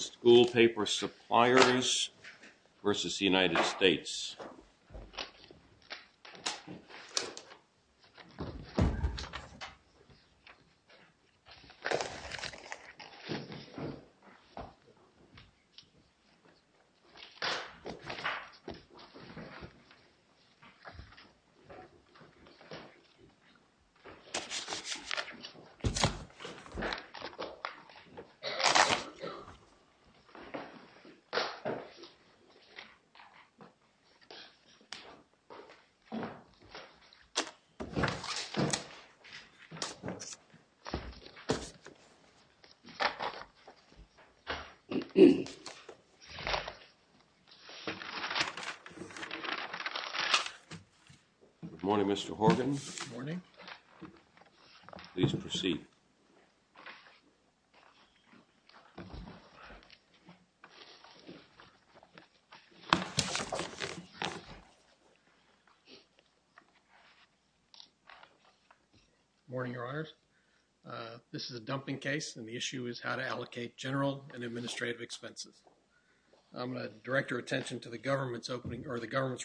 SCHOOL PAPER SUPPLIERS v. United States Good morning, Mr. Horgan. Good morning. Please proceed. Good morning, Your Honors. This is a dumping case, and the issue is how to allocate general and administrative expenses. I'm going to direct your attention to the government's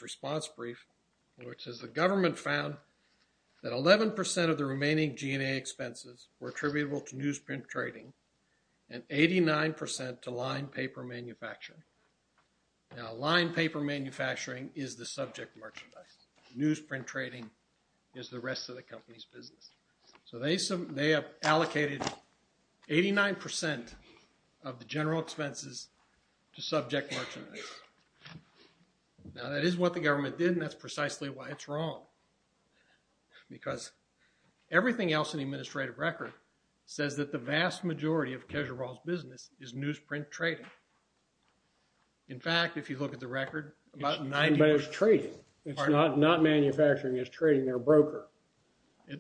response brief, which says the government found that 11% of the remaining G&A expenses were attributable to newsprint trading and 89% to line paper manufacturing. Now, line paper manufacturing is the subject merchandise. Newsprint trading is the rest of the company's business. So they have allocated 89% of the general expenses to subject merchandise. Now, that is what the government did, and that's precisely why it's wrong. Because everything else in the administrative record says that the vast majority of Kesher Rawls' business is newsprint trading. In fact, if you look at the record, about 90%… But it's trading. It's not manufacturing. It's trading. They're a broker.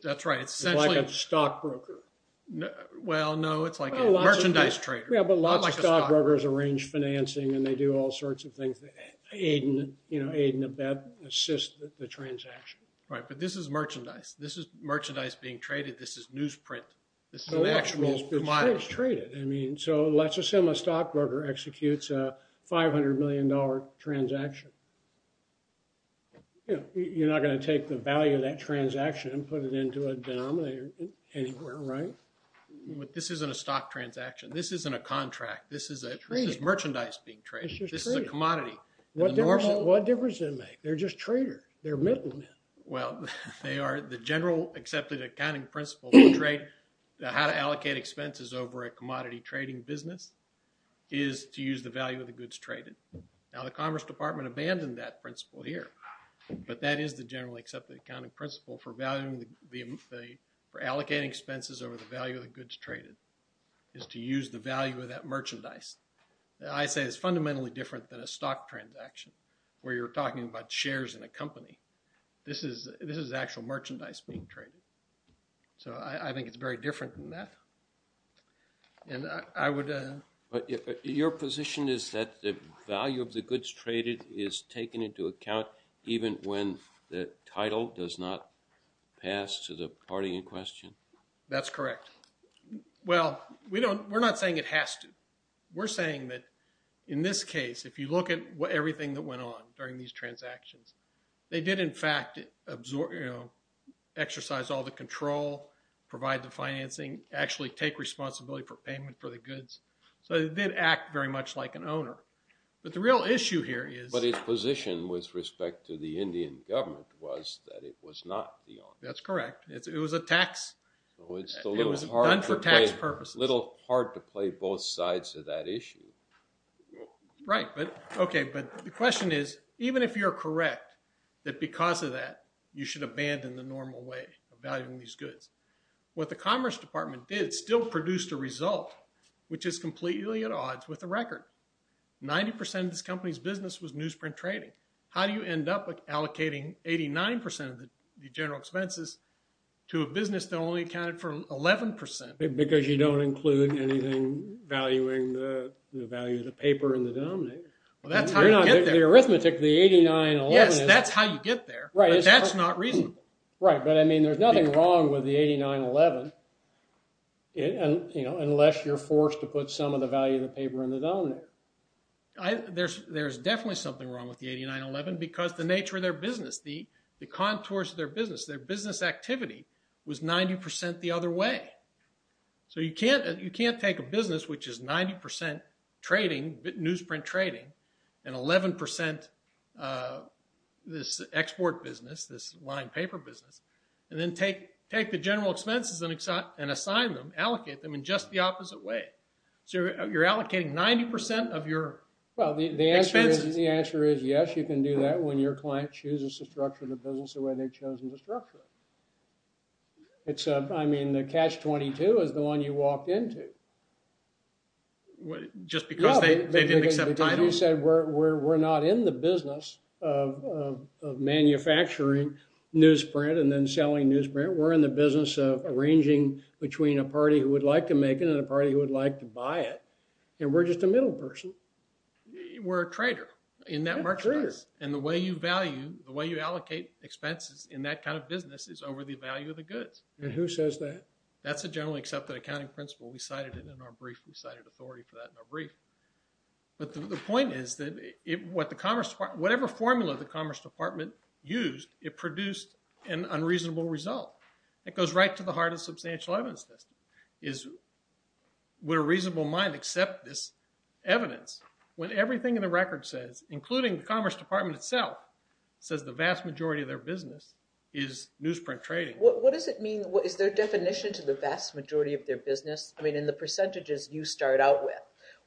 That's right. It's essentially… It's like a stockbroker. Well, no, it's like a merchandise trader. Yeah, but a lot of stockbrokers arrange financing, and they do all sorts of things that aid and assist the transaction. Right, but this is merchandise. This is merchandise being traded. This is newsprint. This is an actual commodity. It's traded. So let's assume a stockbroker executes a $500 million transaction. You're not going to take the value of that transaction and put it into a denominator anywhere, right? This isn't a stock transaction. This isn't a contract. This is merchandise being traded. It's just trading. This is a commodity. What difference does it make? They're just traders. They're middlemen. Well, they are… The general accepted accounting principle for trade, how to allocate expenses over a commodity trading business, is to use the value of the goods traded. Now, the Commerce Department abandoned that principle here, but that is the general accepted accounting principle for allocating expenses over the value of the goods traded, is to use the value of that merchandise. Now, I say it's fundamentally different than a stock transaction, where you're talking about shares in a company. This is actual merchandise being traded. So I think it's very different than that. And I would… Your position is that the value of the goods traded is taken into account even when the title does not pass to the party in question? That's correct. Well, we're not saying it has to. We're saying that in this case, if you look at everything that went on during these transactions, they did in fact exercise all the control, provide the financing, actually take responsibility for payment for the goods. So they did act very much like an owner. But the real issue here is… But his position with respect to the Indian government was that it was not the owner. That's correct. It was a tax. It was done for tax purposes. It's a little hard to play both sides of that issue. Right. Okay, but the question is, even if you're correct, that because of that, you should abandon the normal way of valuing these goods. What the Commerce Department did still produced a result, which is completely at odds with the record. 90% of this company's business was newsprint trading. How do you end up allocating 89% of the general expenses to a business that only accounted for 11%? Because you don't include anything valuing the value of the paper and the denominator. Well, that's how you get there. The arithmetic, the 89, 11… Yes, that's how you get there. Right. But that's not reasonable. Right. But I mean, there's nothing wrong with the 89, 11, unless you're forced to put some of the value of the paper in the denominator. There's definitely something wrong with the 89, 11, because the nature of their business, the contours of their business, their business activity was 90% the other way. So you can't take a business which is 90% trading, newsprint trading, and 11% this export business, this line paper business, and then take the general expenses and assign them, allocate them in just the opposite way. So you're allocating 90% of your expenses. Well, the answer is yes, you can do that when your client chooses to structure the business the way they've chosen to structure it. I mean, the Catch-22 is the one you walked into. Just because they didn't accept titles? We're not in the business of manufacturing newsprint and then selling newsprint. We're in the business of arranging between a party who would like to make it and a party who would like to buy it. And we're just a middle person. We're a trader in that marketplace. And the way you value, the way you allocate expenses in that kind of business is over the value of the goods. And who says that? That's a generally accepted accounting principle. We cited it in our brief. We cited authority for that in our brief. But the point is that whatever formula the Commerce Department used, it produced an unreasonable result. It goes right to the heart of substantial evidence testing. Would a reasonable mind accept this evidence when everything in the record says, including the Commerce Department itself, says the vast majority of their business is newsprint trading? What does it mean? Is there a definition to the vast majority of their business? I mean, in the percentages you start out with,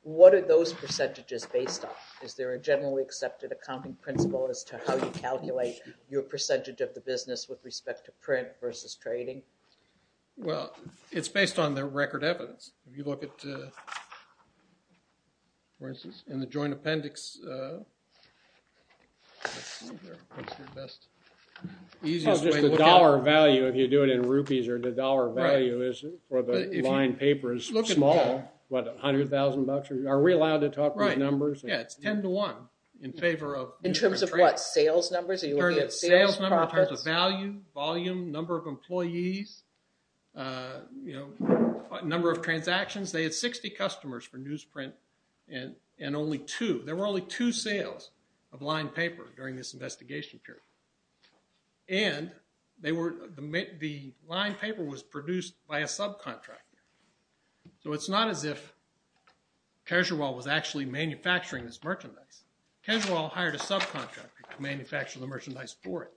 what are those percentages based on? Is there a generally accepted accounting principle as to how you calculate your percentage of the business with respect to print versus trading? Well, it's based on the record evidence. If you look at, for instance, in the joint appendix, what's your best, easiest way to look at it? It's not just the dollar value if you do it in rupees, or the dollar value for the lined paper is small, what, 100,000 bucks? Are we allowed to talk about numbers? Yeah, it's 10 to 1 in favor of newsprint trade. In terms of what, sales numbers? Are you looking at sales profits? In terms of sales numbers, in terms of value, volume, number of employees, number of transactions. They had 60 customers for newsprint and only two. There were only two sales of lined paper during this investigation period. And the lined paper was produced by a subcontractor. So it's not as if Casual was actually manufacturing this merchandise. Casual hired a subcontractor to manufacture the merchandise for it.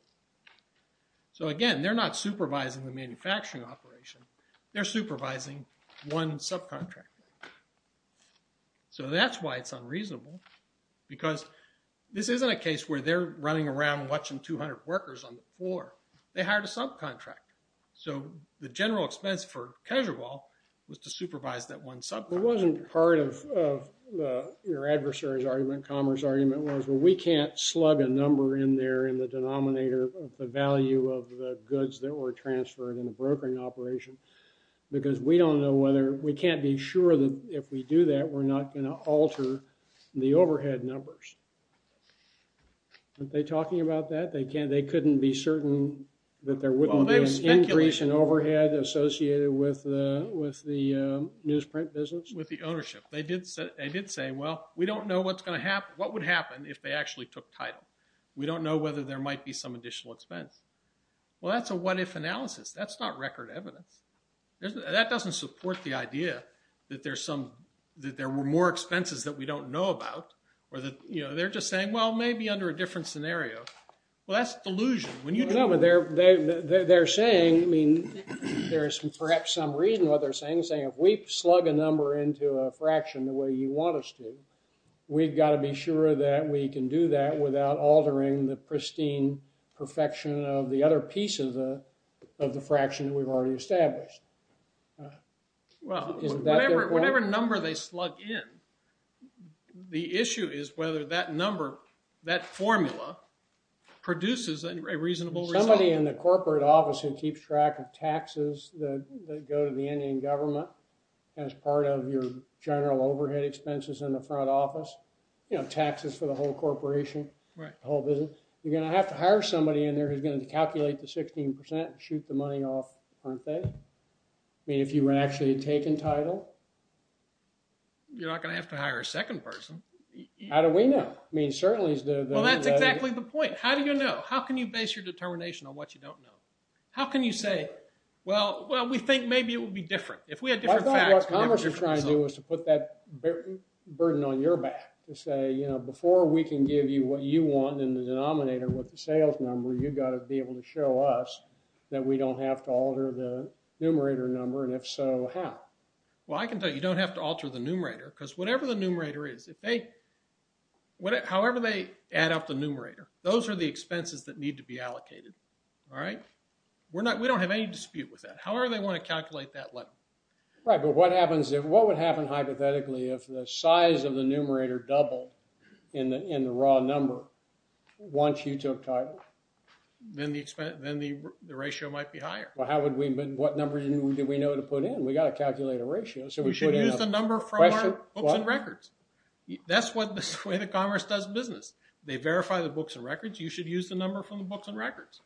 So, again, they're not supervising the manufacturing operation. They're supervising one subcontractor. So that's why it's unreasonable, because this isn't a case where they're running around watching 200 workers on the floor. They hired a subcontractor. So the general expense for Casual was to supervise that one subcontractor. It wasn't part of your adversary's argument, Commer's argument, was, well, we can't slug a number in there in the denominator of the value of the goods that were transferred in the brokering operation, because we can't be sure that if we do that, we're not going to alter the overhead numbers. Aren't they talking about that? They couldn't be certain that there wouldn't be an increase in overhead associated with the newsprint business? With the ownership. They did say, well, we don't know what would happen if they actually took title. We don't know whether there might be some additional expense. Well, that's a what-if analysis. That's not record evidence. That doesn't support the idea that there were more expenses that we don't know about. They're just saying, well, maybe under a different scenario. Well, that's delusion. They're saying, I mean, there is perhaps some reason why they're saying, saying if we slug a number into a fraction the way you want us to, we've got to be sure that we can do that without altering the pristine perfection of the other pieces of the fraction that we've already established. Well, whatever number they slug in, the issue is whether that number, that formula, produces a reasonable result. Somebody in the corporate office who keeps track of taxes that go to the Indian government as part of your general overhead expenses in the front office, you know, taxes for the whole corporation, the whole business, you're going to have to hire somebody in there who's going to calculate the 16% and shoot the money off, aren't they? I mean, if you were actually taking title. You're not going to have to hire a second person. How do we know? I mean, certainly it's the – Well, that's exactly the point. How do you know? How can you base your determination on what you don't know? How can you say, well, we think maybe it would be different. If we had different facts – I thought what Congress was trying to do was to put that burden on your Before we can give you what you want in the denominator with the sales number, you've got to be able to show us that we don't have to alter the numerator number, and if so, how? Well, I can tell you don't have to alter the numerator because whatever the numerator is, however they add up the numerator, those are the expenses that need to be allocated. All right? We don't have any dispute with that. However they want to calculate that level. Right, but what happens if – If the numerator doubled in the raw number once you took title? Then the ratio might be higher. Well, how would we – what numbers do we know to put in? We've got to calculate a ratio, so we put in – You should use the number from our books and records. That's the way that Congress does business. They verify the books and records. You should use the number from the books and records.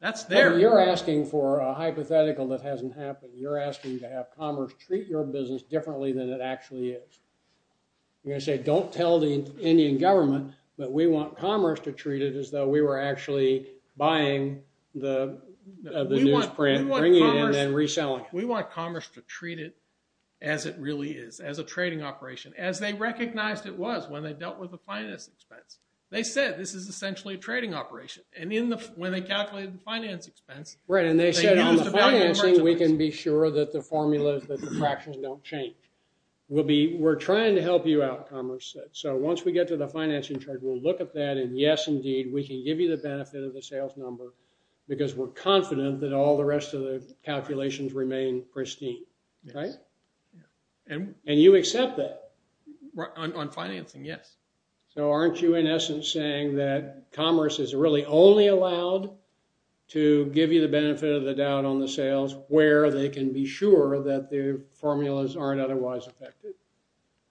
That's their – Well, you're asking for a hypothetical that hasn't happened. You're asking to have Congress treat your business differently than it actually is. I'm going to say don't tell the Indian government, but we want Congress to treat it as though we were actually buying the newsprint, bringing it in, and reselling it. We want Congress to treat it as it really is, as a trading operation, as they recognized it was when they dealt with the finance expense. They said this is essentially a trading operation. And when they calculated the finance expense – Right, and they said on the financing, we can be sure that the formulas, that the fractions don't change. We'll be – we're trying to help you out, Congress said. So once we get to the financing chart, we'll look at that, and yes, indeed, we can give you the benefit of the sales number because we're confident that all the rest of the calculations remain pristine. Right? And you accept that. On financing, yes. So aren't you, in essence, saying that Congress is really only allowed to give you the benefit of the doubt on the sales where they can be sure that the formulas aren't otherwise affected?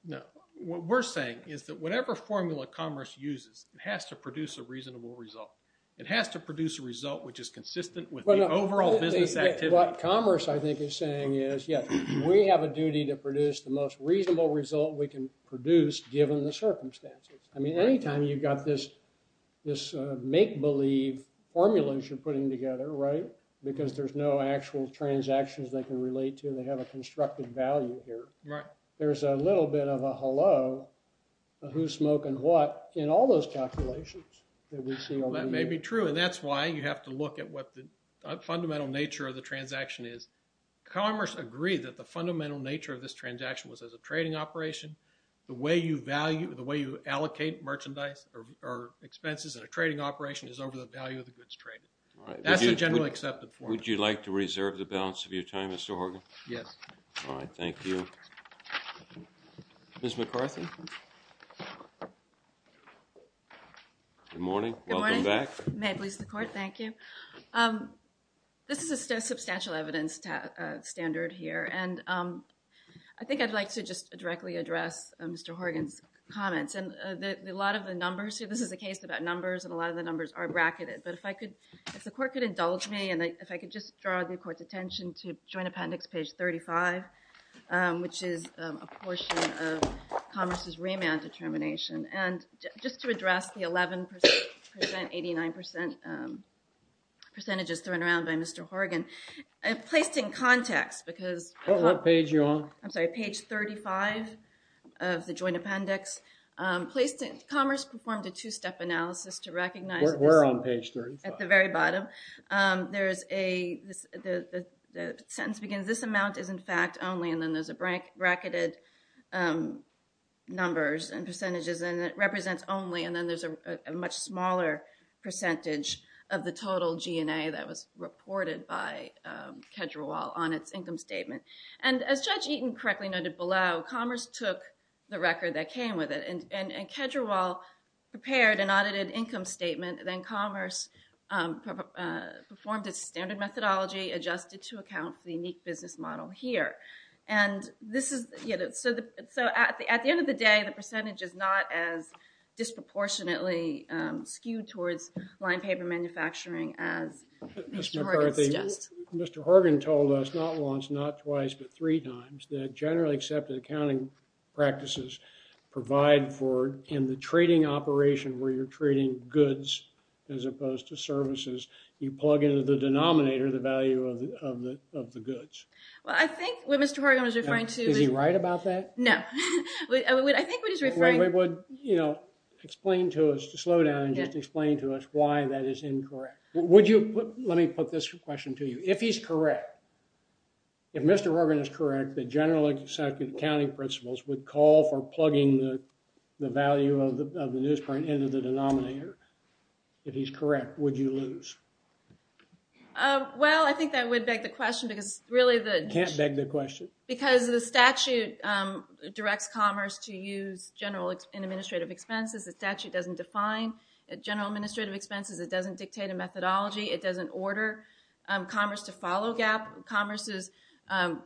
No. What we're saying is that whatever formula Congress uses, it has to produce a reasonable result. It has to produce a result which is consistent with the overall business activity. What Commerce, I think, is saying is, yes, we have a duty to produce the most reasonable result we can produce given the circumstances. I mean, anytime you've got this make-believe formula you're putting together, right, because there's no actual transactions they can relate to. They have a constructed value here. Right. There's a little bit of a hello, a who's smoking what, in all those calculations that we see over here. Well, that may be true, and that's why you have to look at what the fundamental nature of the transaction is. Commerce agreed that the fundamental nature of this transaction was as a trading operation, the way you value, the way you allocate merchandise or expenses in a trading operation is over the value of the goods traded. All right. That's the generally accepted form. Would you like to reserve the balance of your time, Mr. Horgan? Yes. All right. Thank you. Ms. McCarthy? Good morning. Welcome back. Good morning. May it please the Court. Thank you. This is a substantial evidence standard here, and I think I'd like to just directly address Mr. Horgan's comments. And a lot of the numbers here, this is a case about numbers, and a lot of the numbers are bracketed. But if the Court could indulge me, and if I could just draw the Court's attention to Joint Appendix page 35, which is a portion of Commerce's remand determination. And just to address the 11%, 89% percentages thrown around by Mr. Horgan, placed in context, because... What page are you on? I'm sorry, page 35 of the Joint Appendix. Commerce performed a two-step analysis to recognize... We're on page 35. At the very bottom. There is a... The sentence begins, this amount is in fact only, and then there's a bracketed numbers and percentages, and it represents only, and then there's a much smaller percentage of the total G&A that was reported by Kedrewal on its income statement. And as Judge Eaton correctly noted below, Commerce took the record that came with it, and Kedrewal prepared an audited income statement, then Commerce performed a standard methodology, adjusted to account for the unique business model here. And this is... So at the end of the day, the percentage is not as disproportionately skewed towards line paper manufacturing as Mr. Horgan suggests. Mr. Horgan told us not once, not twice, but three times, that generally accepted accounting practices provide for, in the trading operation where you're trading goods as opposed to services, you plug into the denominator the value of the goods. Well, I think what Mr. Horgan was referring to... Is he right about that? No. I think what he's referring... Explain to us, slow down, and just explain to us why that is incorrect. Let me put this question to you. If he's correct, if Mr. Horgan is correct, that generally accepted accounting principles would call for plugging the value of the newsprint into the denominator. If he's correct, would you lose? Well, I think that would beg the question because really the... Can't beg the question. Because the statute directs Commerce to use general and administrative expenses. The statute doesn't define general administrative expenses. It doesn't dictate a methodology. It doesn't order Commerce to follow Commerce's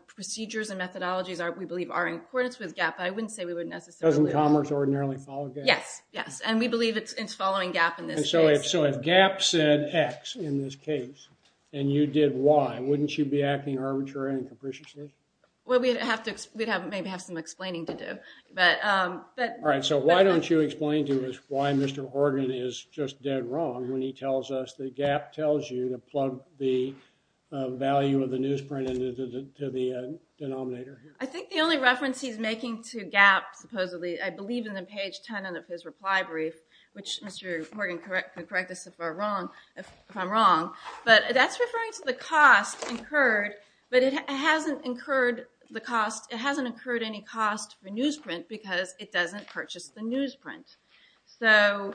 procedures and methodologies we believe are in accordance with GAAP. I wouldn't say we would necessarily... Doesn't Commerce ordinarily follow GAAP? Yes, yes. And we believe it's following GAAP in this case. So if GAAP said X in this case and you did Y, wouldn't you be acting arbitrarily and capriciously? Well, we'd have to maybe have some explaining to do. All right. So why don't you explain to us why Mr. Horgan is just dead wrong when he tells us that GAAP tells you to plug the value of the newsprint into the denominator here? I think the only reference he's making to GAAP supposedly, I believe in the page 10 of his reply brief, which Mr. Horgan can correct us if I'm wrong. But that's referring to the cost incurred, but it hasn't incurred the cost. It hasn't incurred any cost for newsprint because it doesn't purchase the newsprint. So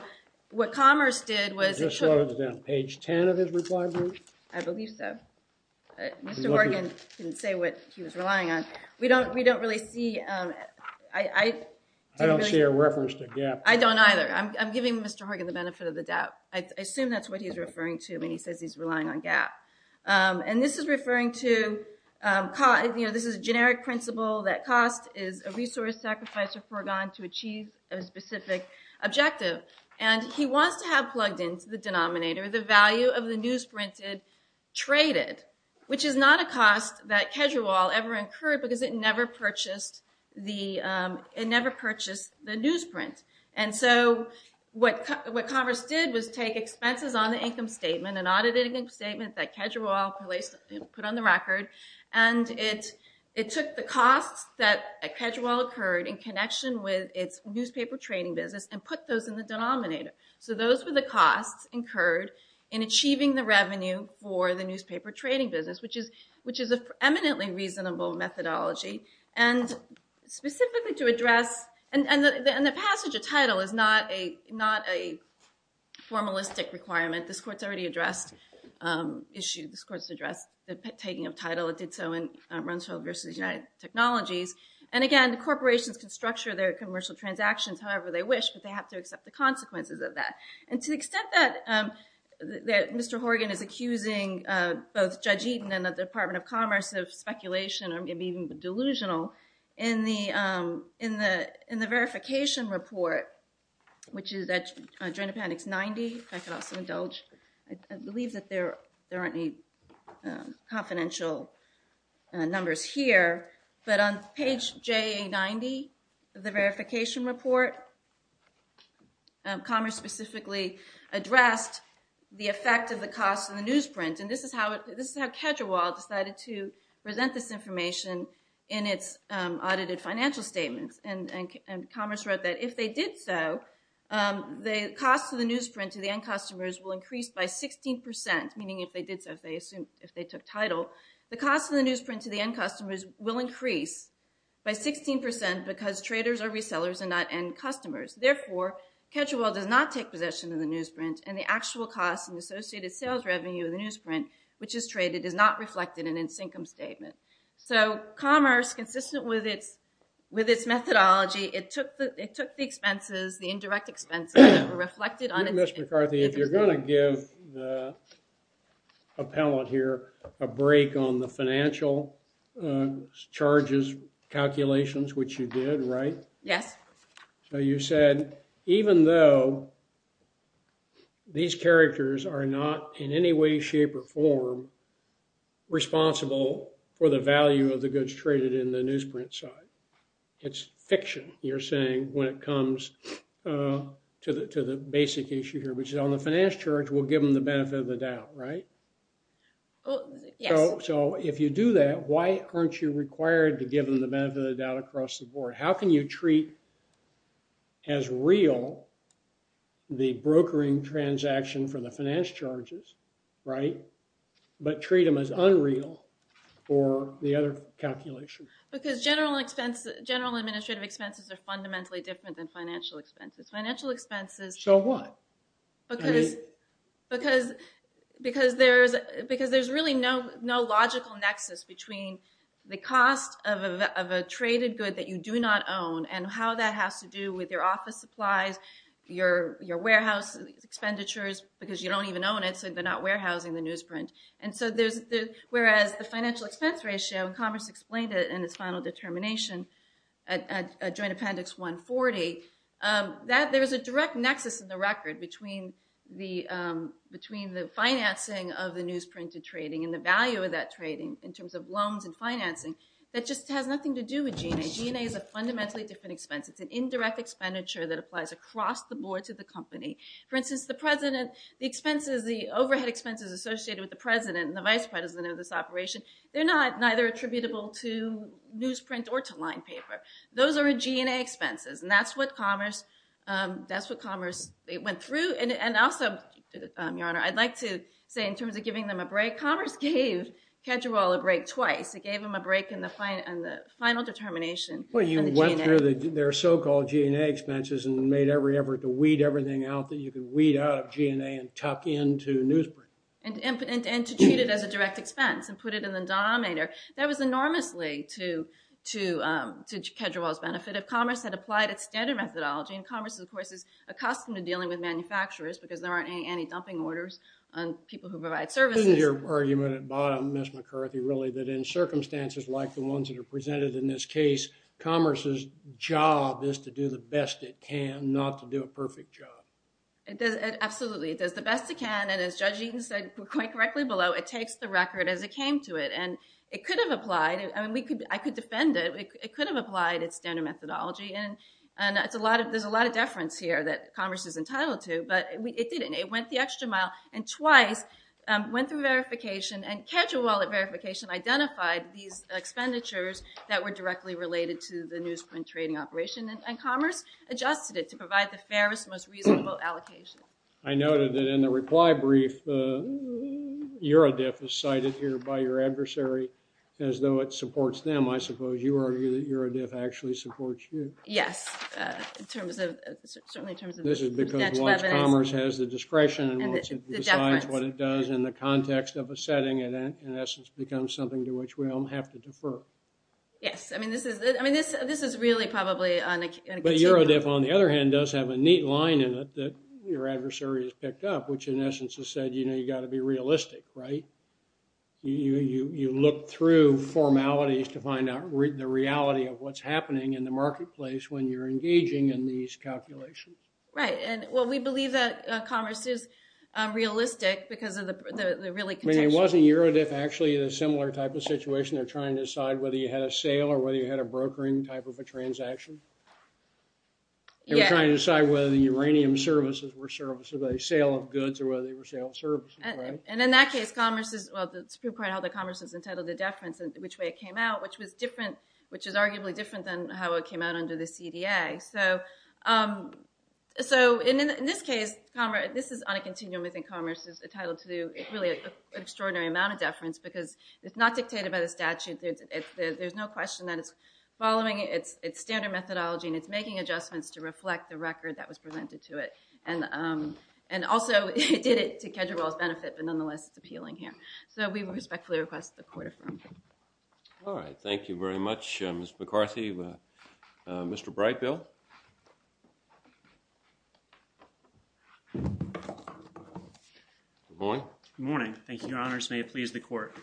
what Commerce did was... Just wrote it down. Page 10 of his reply brief? I believe so. Mr. Horgan didn't say what he was relying on. We don't really see... I don't share reference to GAAP. I don't either. I'm giving Mr. Horgan the benefit of the doubt. I assume that's what he's referring to when he says he's relying on GAAP. And this is referring to, you know, this is a generic principle that cost is a resource sacrificed or forgone to achieve a specific objective. And he wants to have plugged into the denominator the value of the newsprint traded, which is not a cost that Kedrewal ever incurred because it never purchased the newsprint. And so what Commerce did was take expenses on the income statement, an audited income statement that Kedrewal put on the record, and it took the costs that Kedrewal incurred in connection with its newspaper trading business and put those in the denominator. So those were the costs incurred in achieving the revenue for the newspaper trading business, which is an eminently reasonable methodology. And specifically to address... And the passage of title is not a formalistic requirement. This Court's already addressed the taking of title. It did so in Rumsfeld v. United Technologies. And again, the corporations can structure their commercial transactions however they wish, but they have to accept the consequences of that. And to the extent that Mr. Horgan is accusing both Judge Eaton and the Department of Commerce of speculation or being delusional, in the verification report, which is at Adrenopanics 90, if I could also indulge, I believe that there aren't any confidential numbers here, but on page JA90 of the verification report, Commerce specifically addressed the effect of the cost of the newsprint. And this is how Kedrewal decided to present this information in its audited financial statements. And Commerce wrote that if they did so, the cost of the newsprint to the end customers will increase by 16%, meaning if they did so, if they took title, the cost of the newsprint to the end customers will increase by 16% because traders or resellers are not end customers. Therefore, Kedrewal does not take possession of the newsprint and the actual cost and associated sales revenue of the newsprint, which is traded, is not reflected in its income statement. So Commerce, consistent with its methodology, it took the expenses, the indirect expenses, that were reflected on its income statement. Ms. McCarthy, if you're going to give the appellant here a break on the financial charges calculations, which you did, right? Yes. So you said even though these characters are not in any way, shape, or form responsible for the value of the goods traded in the newsprint side, it's fiction, you're saying, when it comes to the basic issue here, which is on the finance charge, we'll give them the benefit of the doubt, right? Yes. So if you do that, why aren't you required to give them the benefit of the doubt across the board? How can you treat as real the brokering transaction for the finance charges, right, but treat them as unreal for the other calculations? Because general administrative expenses are fundamentally different than financial expenses. So what? Because there's really no logical nexus between the cost of a traded good that you do not own and how that has to do with your office supplies, your warehouse expenditures, because you don't even own it, so they're not warehousing the newsprint. Whereas the financial expense ratio, and Congress explained it in its final determination at Joint Appendix 140, there's a direct nexus in the record between the financing of the newsprinted trading and the value of that trading in terms of loans and financing that just has nothing to do with G&A. G&A is a fundamentally different expense. It's an indirect expenditure that applies across the board to the company. For instance, the overhead expenses associated with the president and the vice president of this operation, they're neither attributable to newsprint or to line paper. Those are G&A expenses, and that's what Commerce went through. And also, Your Honor, I'd like to say in terms of giving them a break, Commerce gave Kedrewal a break twice. It gave them a break in the final determination. Well, you went through their so-called G&A expenses and made every effort to weed everything out that you could weed out of G&A and tuck into newsprint. And to treat it as a direct expense and put it in the denominator. That was enormously to Kedrewal's benefit. Commerce had applied its standard methodology, and Commerce, of course, is accustomed to dealing with manufacturers because there aren't any dumping orders on people who provide services. Isn't your argument at bottom, Ms. McCarthy, really, that in circumstances like the ones that are presented in this case, Commerce's job is to do the best it can, not to do a perfect job? Absolutely. It does the best it can, and as Judge Eaton said quite correctly below, it takes the record as it came to it. And it could have applied. I could defend it. It could have applied its standard methodology, and there's a lot of deference here that Commerce is entitled to, but it didn't. It went the extra mile and twice went through verification, and Kedrewal verification identified these expenditures that were directly related to the newsprint trading operation, and Commerce adjusted it to provide the fairest, most reasonable allocation. I noted that in the reply brief, Eurodif is cited here by your adversary as though it supports them. I suppose you argue that Eurodif actually supports you. Yes, certainly in terms of Dutch leaveners. This is because once Commerce has the discretion and decides what it does in the context of a setting, it in essence becomes something to which we all have to defer. I mean, this is really probably on a continuum. But Eurodif, on the other hand, does have a neat line in it that your adversary has picked up, which in essence has said, you know, you've got to be realistic, right? You look through formalities to find out the reality of what's happening in the marketplace when you're engaging in these calculations. Right, and well, we believe that Commerce is realistic because of the really contextual... I mean, wasn't Eurodif actually in a similar type of situation? They're trying to decide whether you had a sale or whether you had a brokering type of a transaction? Yes. They were trying to decide whether the uranium services were services, whether they were sale of goods or whether they were sale of services, right? And in that case, Commerce is... Well, the Supreme Court held that Commerce was entitled to deference in which way it came out, which was different, which is arguably different than how it came out under the CDA. So in this case, this is on a continuum. I think Commerce is entitled to really an extraordinary amount of deference because it's not dictated by the statute. There's no question that it's following its standard methods and methodology and it's making adjustments to reflect the record that was presented to it. And also, it did it to Kedgerwell's benefit, but nonetheless, it's appealing here. So we respectfully request the court affirm. All right, thank you very much, Ms. McCarthy. Mr. Breitbill? Good morning. Good morning. Thank you, Your Honors. May it please the court.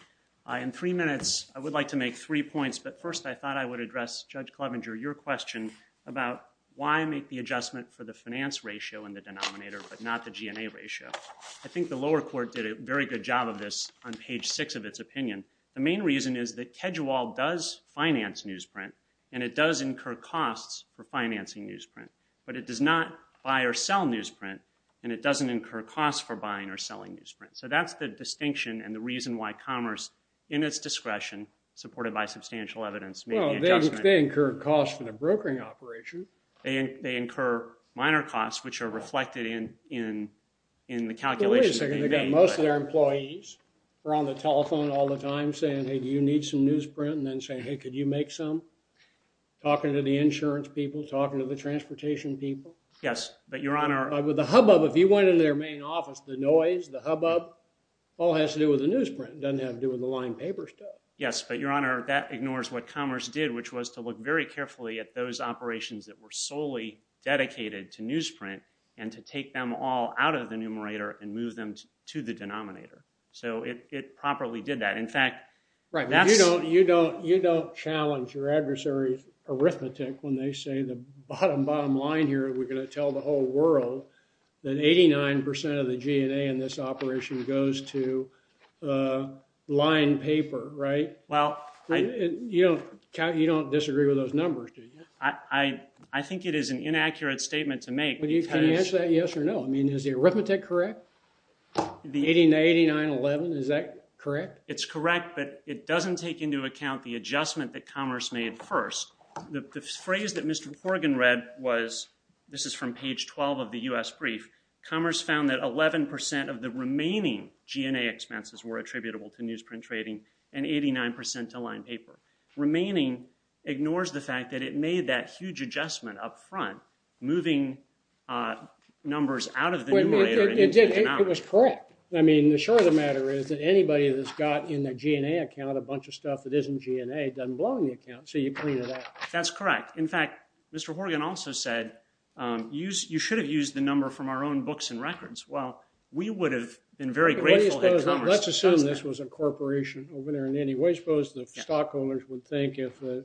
In three minutes, I would like to make three points, but first I thought I would address, Judge Clevenger, your question about why make the adjustment for the finance ratio in the denominator but not the GNA ratio. I think the lower court did a very good job of this on page 6 of its opinion. The main reason is that Kedgerwell does finance newsprint and it does incur costs for financing newsprint, but it does not buy or sell newsprint and it doesn't incur costs for buying or selling newsprint. So that's the distinction and the reason why Commerce, in its discretion, supported by substantial evidence, made the adjustment. Well, they incur costs for the brokering operation. They incur minor costs, which are reflected in the calculation. But wait a second. They got most of their employees around the telephone all the time saying, hey, do you need some newsprint, and then saying, hey, could you make some? Talking to the insurance people, talking to the transportation people. Yes, but Your Honor. With the hubbub, if you went into their main office, the noise, the hubbub, all has to do with the newsprint. It doesn't have to do with the lined paper stuff. Yes, but Your Honor, that ignores what Commerce did, which was to look very carefully at those operations that were solely dedicated to newsprint and to take them all out of the numerator and move them to the denominator. So it properly did that. In fact, that's... Right, but you don't challenge your adversary's arithmetic when they say the bottom, bottom line here, we're going to tell the whole world that 89% of the G&A in this operation goes to lined paper, right? Well, I... You don't disagree with those numbers, do you? I think it is an inaccurate statement to make. Can you answer that yes or no? I mean, is the arithmetic correct? The 89-11, is that correct? It's correct, but it doesn't take into account the adjustment that Commerce made first. The phrase that Mr. Horgan read was... Commerce found that 11% of the remaining G&A expenses were attributable to newsprint trading and 89% to lined paper. Remaining ignores the fact that it made that huge adjustment up front, moving numbers out of the numerator... It was correct. I mean, the short of the matter is that anybody that's got in their G&A account a bunch of stuff that isn't G&A doesn't belong in the account, so you clean it up. That's correct. In fact, Mr. Horgan also said that you should have used the number from our own books and records. Well, we would have been very grateful... Let's assume this was a corporation. What do you suppose the stockholders would think if the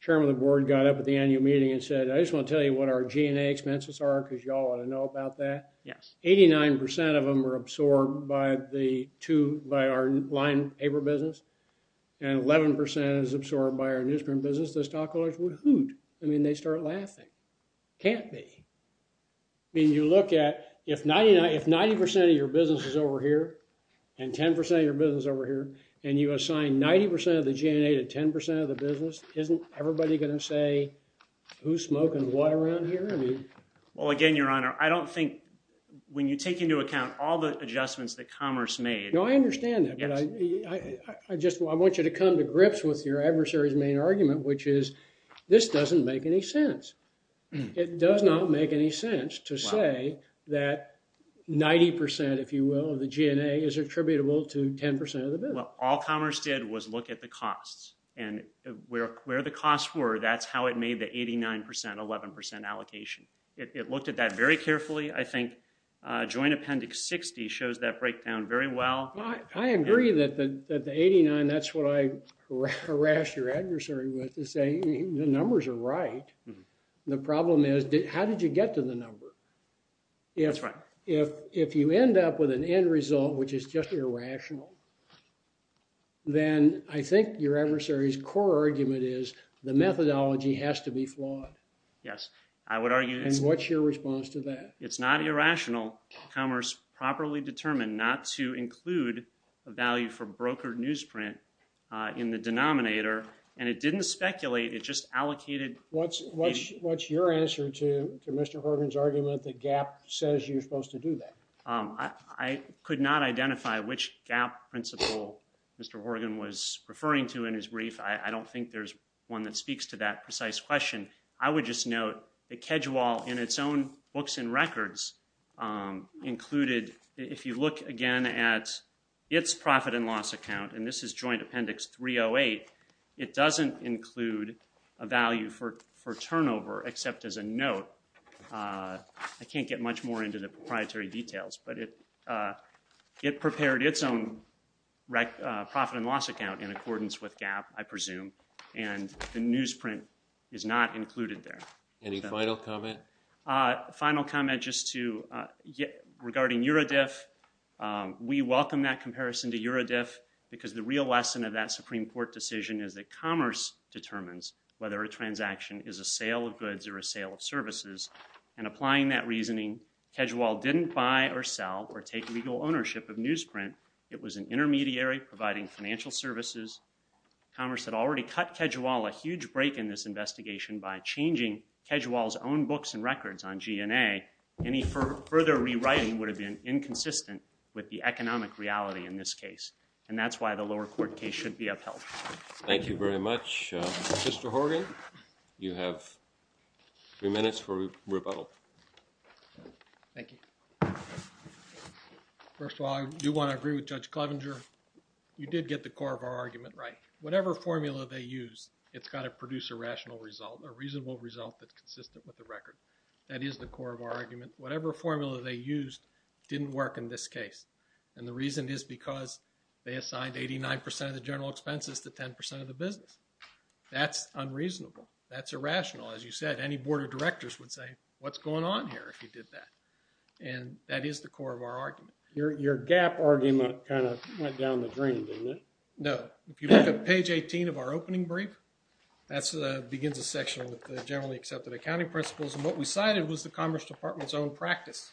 chairman of the board got up at the annual meeting and said, I just want to tell you what our G&A expenses are because you all ought to know about that. Yes. 89% of them are absorbed by our lined paper business and 11% is absorbed by our newsprint business. The stockholders would hoot. I mean, they'd start laughing. Can't be. I mean, you look at... If 99... If 90% of your business is over here and 10% of your business is over here and you assign 90% of the G&A to 10% of the business, isn't everybody going to say who's smoking what around here? I mean... Well, again, Your Honor, I don't think... When you take into account all the adjustments that Commerce made... No, I understand that, but I... I just want you to come to grips with your adversary's main argument, which is this doesn't make any sense. It does not make any sense to say that 90%, if you will, of the G&A is attributable to 10% of the business. Well, all Commerce did was look at the costs, and where the costs were, that's how it made the 89%, 11% allocation. It looked at that very carefully. I think Joint Appendix 60 shows that breakdown very well. I agree that the 89... That's what I harassed your adversary with, to say the numbers are right. The problem is how did you get to the number? That's right. If you end up with an end result which is just irrational, then I think your adversary's core argument is the methodology has to be flawed. Yes, I would argue... It's not irrational. Commerce properly determined not to include a value for brokered newsprint in the denominator, and it didn't speculate, it just allocated... What's your answer to Mr. Horgan's argument that GAAP says you're supposed to do that? I could not identify which GAAP principle Mr. Horgan was referring to in his brief. I don't think there's one that speaks to that precise question. I would just note that Kedgewall, in its own books and records, included... If you look again at its profit and loss account, and this is Joint Appendix 308, it doesn't include a value for turnover, except as a note. I can't get much more into the proprietary details, but it prepared its own profit and loss account in accordance with GAAP, I presume, and the newsprint is not included there. Any final comment? Final comment just regarding Eurodiff. We welcome that comparison to Eurodiff, because the real lesson of that Supreme Court decision is that commerce determines whether a transaction is a sale of goods or a sale of services, and applying that reasoning, Kedgewall didn't buy or sell or take legal ownership of newsprint. It was an intermediary providing financial services. Commerce had already cut Kedgewall a huge break in this investigation by changing Kedgewall's own books and records on G&A. Any further rewriting would have been inconsistent with the economic reality in this case, and that's why the lower court case should be upheld. Thank you very much. Mr. Horgan, you have three minutes for rebuttal. Thank you. First of all, I do want to agree with Judge Clevenger. You did get the core of our argument right. Whatever formula they use, it's got to produce a rational result, a reasonable result that's consistent with the record. That is the core of our argument. Whatever formula they used didn't work in this case, and the reason is because they assigned 89% of the general expenses to 10% of the business. That's unreasonable. That's irrational. As you said, any board of directors would say, what's going on here if you did that? And that is the core of our argument. Your gap argument kind of went down the drain, didn't it? No. If you look at page 18 of our opening brief, that begins a section with the generally accepted accounting principles, and what we cited was the Commerce Department's own practice,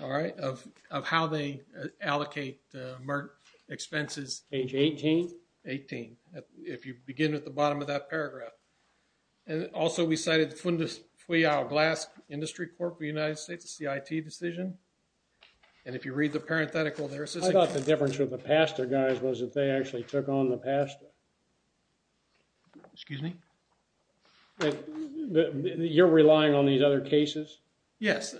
all right, of how they allocate the Merck expenses. Page 18? 18, if you begin at the bottom of that paragraph. And also, we cited the Fundus-Fuyao-Glask Industry Corp of the United States, a CIT decision, and if you read the parenthetical there, it says... I thought the difference with the PASTA guys was that they actually took on the PASTA. Excuse me? You're relying on these other cases? Yes.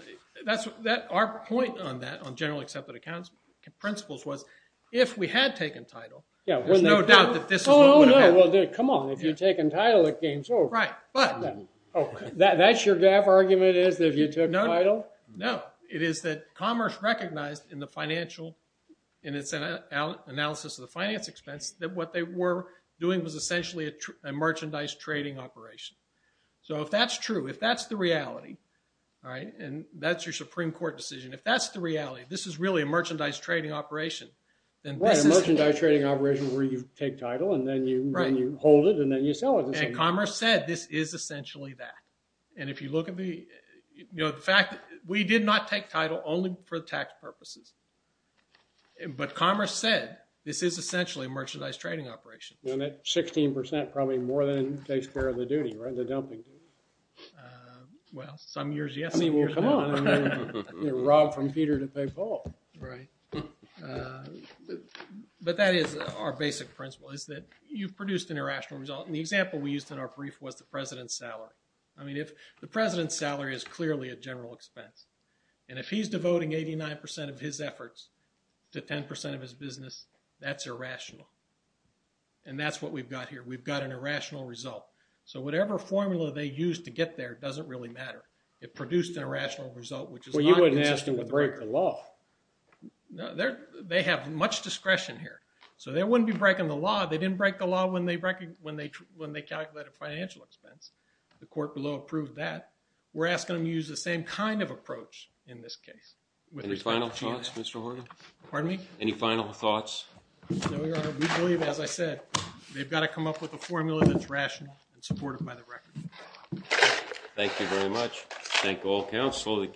Our point on that, on generally accepted accounting principles, was if we had taken title, there's no doubt that this is what would have happened. Oh, no, well, come on. If you take entitlement gains, oh... Right, but... That's your gap argument, is that you took title? No. But it is that Commerce recognized in the financial, in its analysis of the finance expense, that what they were doing was essentially a merchandise trading operation. So if that's true, if that's the reality, and that's your Supreme Court decision, if that's the reality, this is really a merchandise trading operation, then this is... Right, a merchandise trading operation where you take title and then you hold it and then you sell it. And Commerce said this is essentially that. And if you look at the... You know, the fact... We did not take title only for tax purposes. But Commerce said this is essentially a merchandise trading operation. And that 16% probably more than takes care of the duty, right? The dumping duty. Well, some years yes, some years no. I mean, well, come on. You know, rob from Peter to pay Paul. Right. But that is our basic principle, is that you've produced an irrational result. And the example we used in our brief was the President's salary. I mean, if... The President's salary is clearly a general expense. And if he's devoting 89% of his efforts to 10% of his business, that's irrational. And that's what we've got here. We've got an irrational result. So whatever formula they used to get there doesn't really matter. It produced an irrational result which is not... Well, you wouldn't ask them to break the law. No, they have much discretion here. So they wouldn't be breaking the law. They didn't break the law when they calculated financial expense. The court below approved that. We're asking them to use the same kind of approach in this case. Any final thoughts, Mr. Horgan? Pardon me? Any final thoughts? No, Your Honor. We believe, as I said, they've got to come up with a formula that's rational and supported by the record. Thank you very much. Thank all counsel.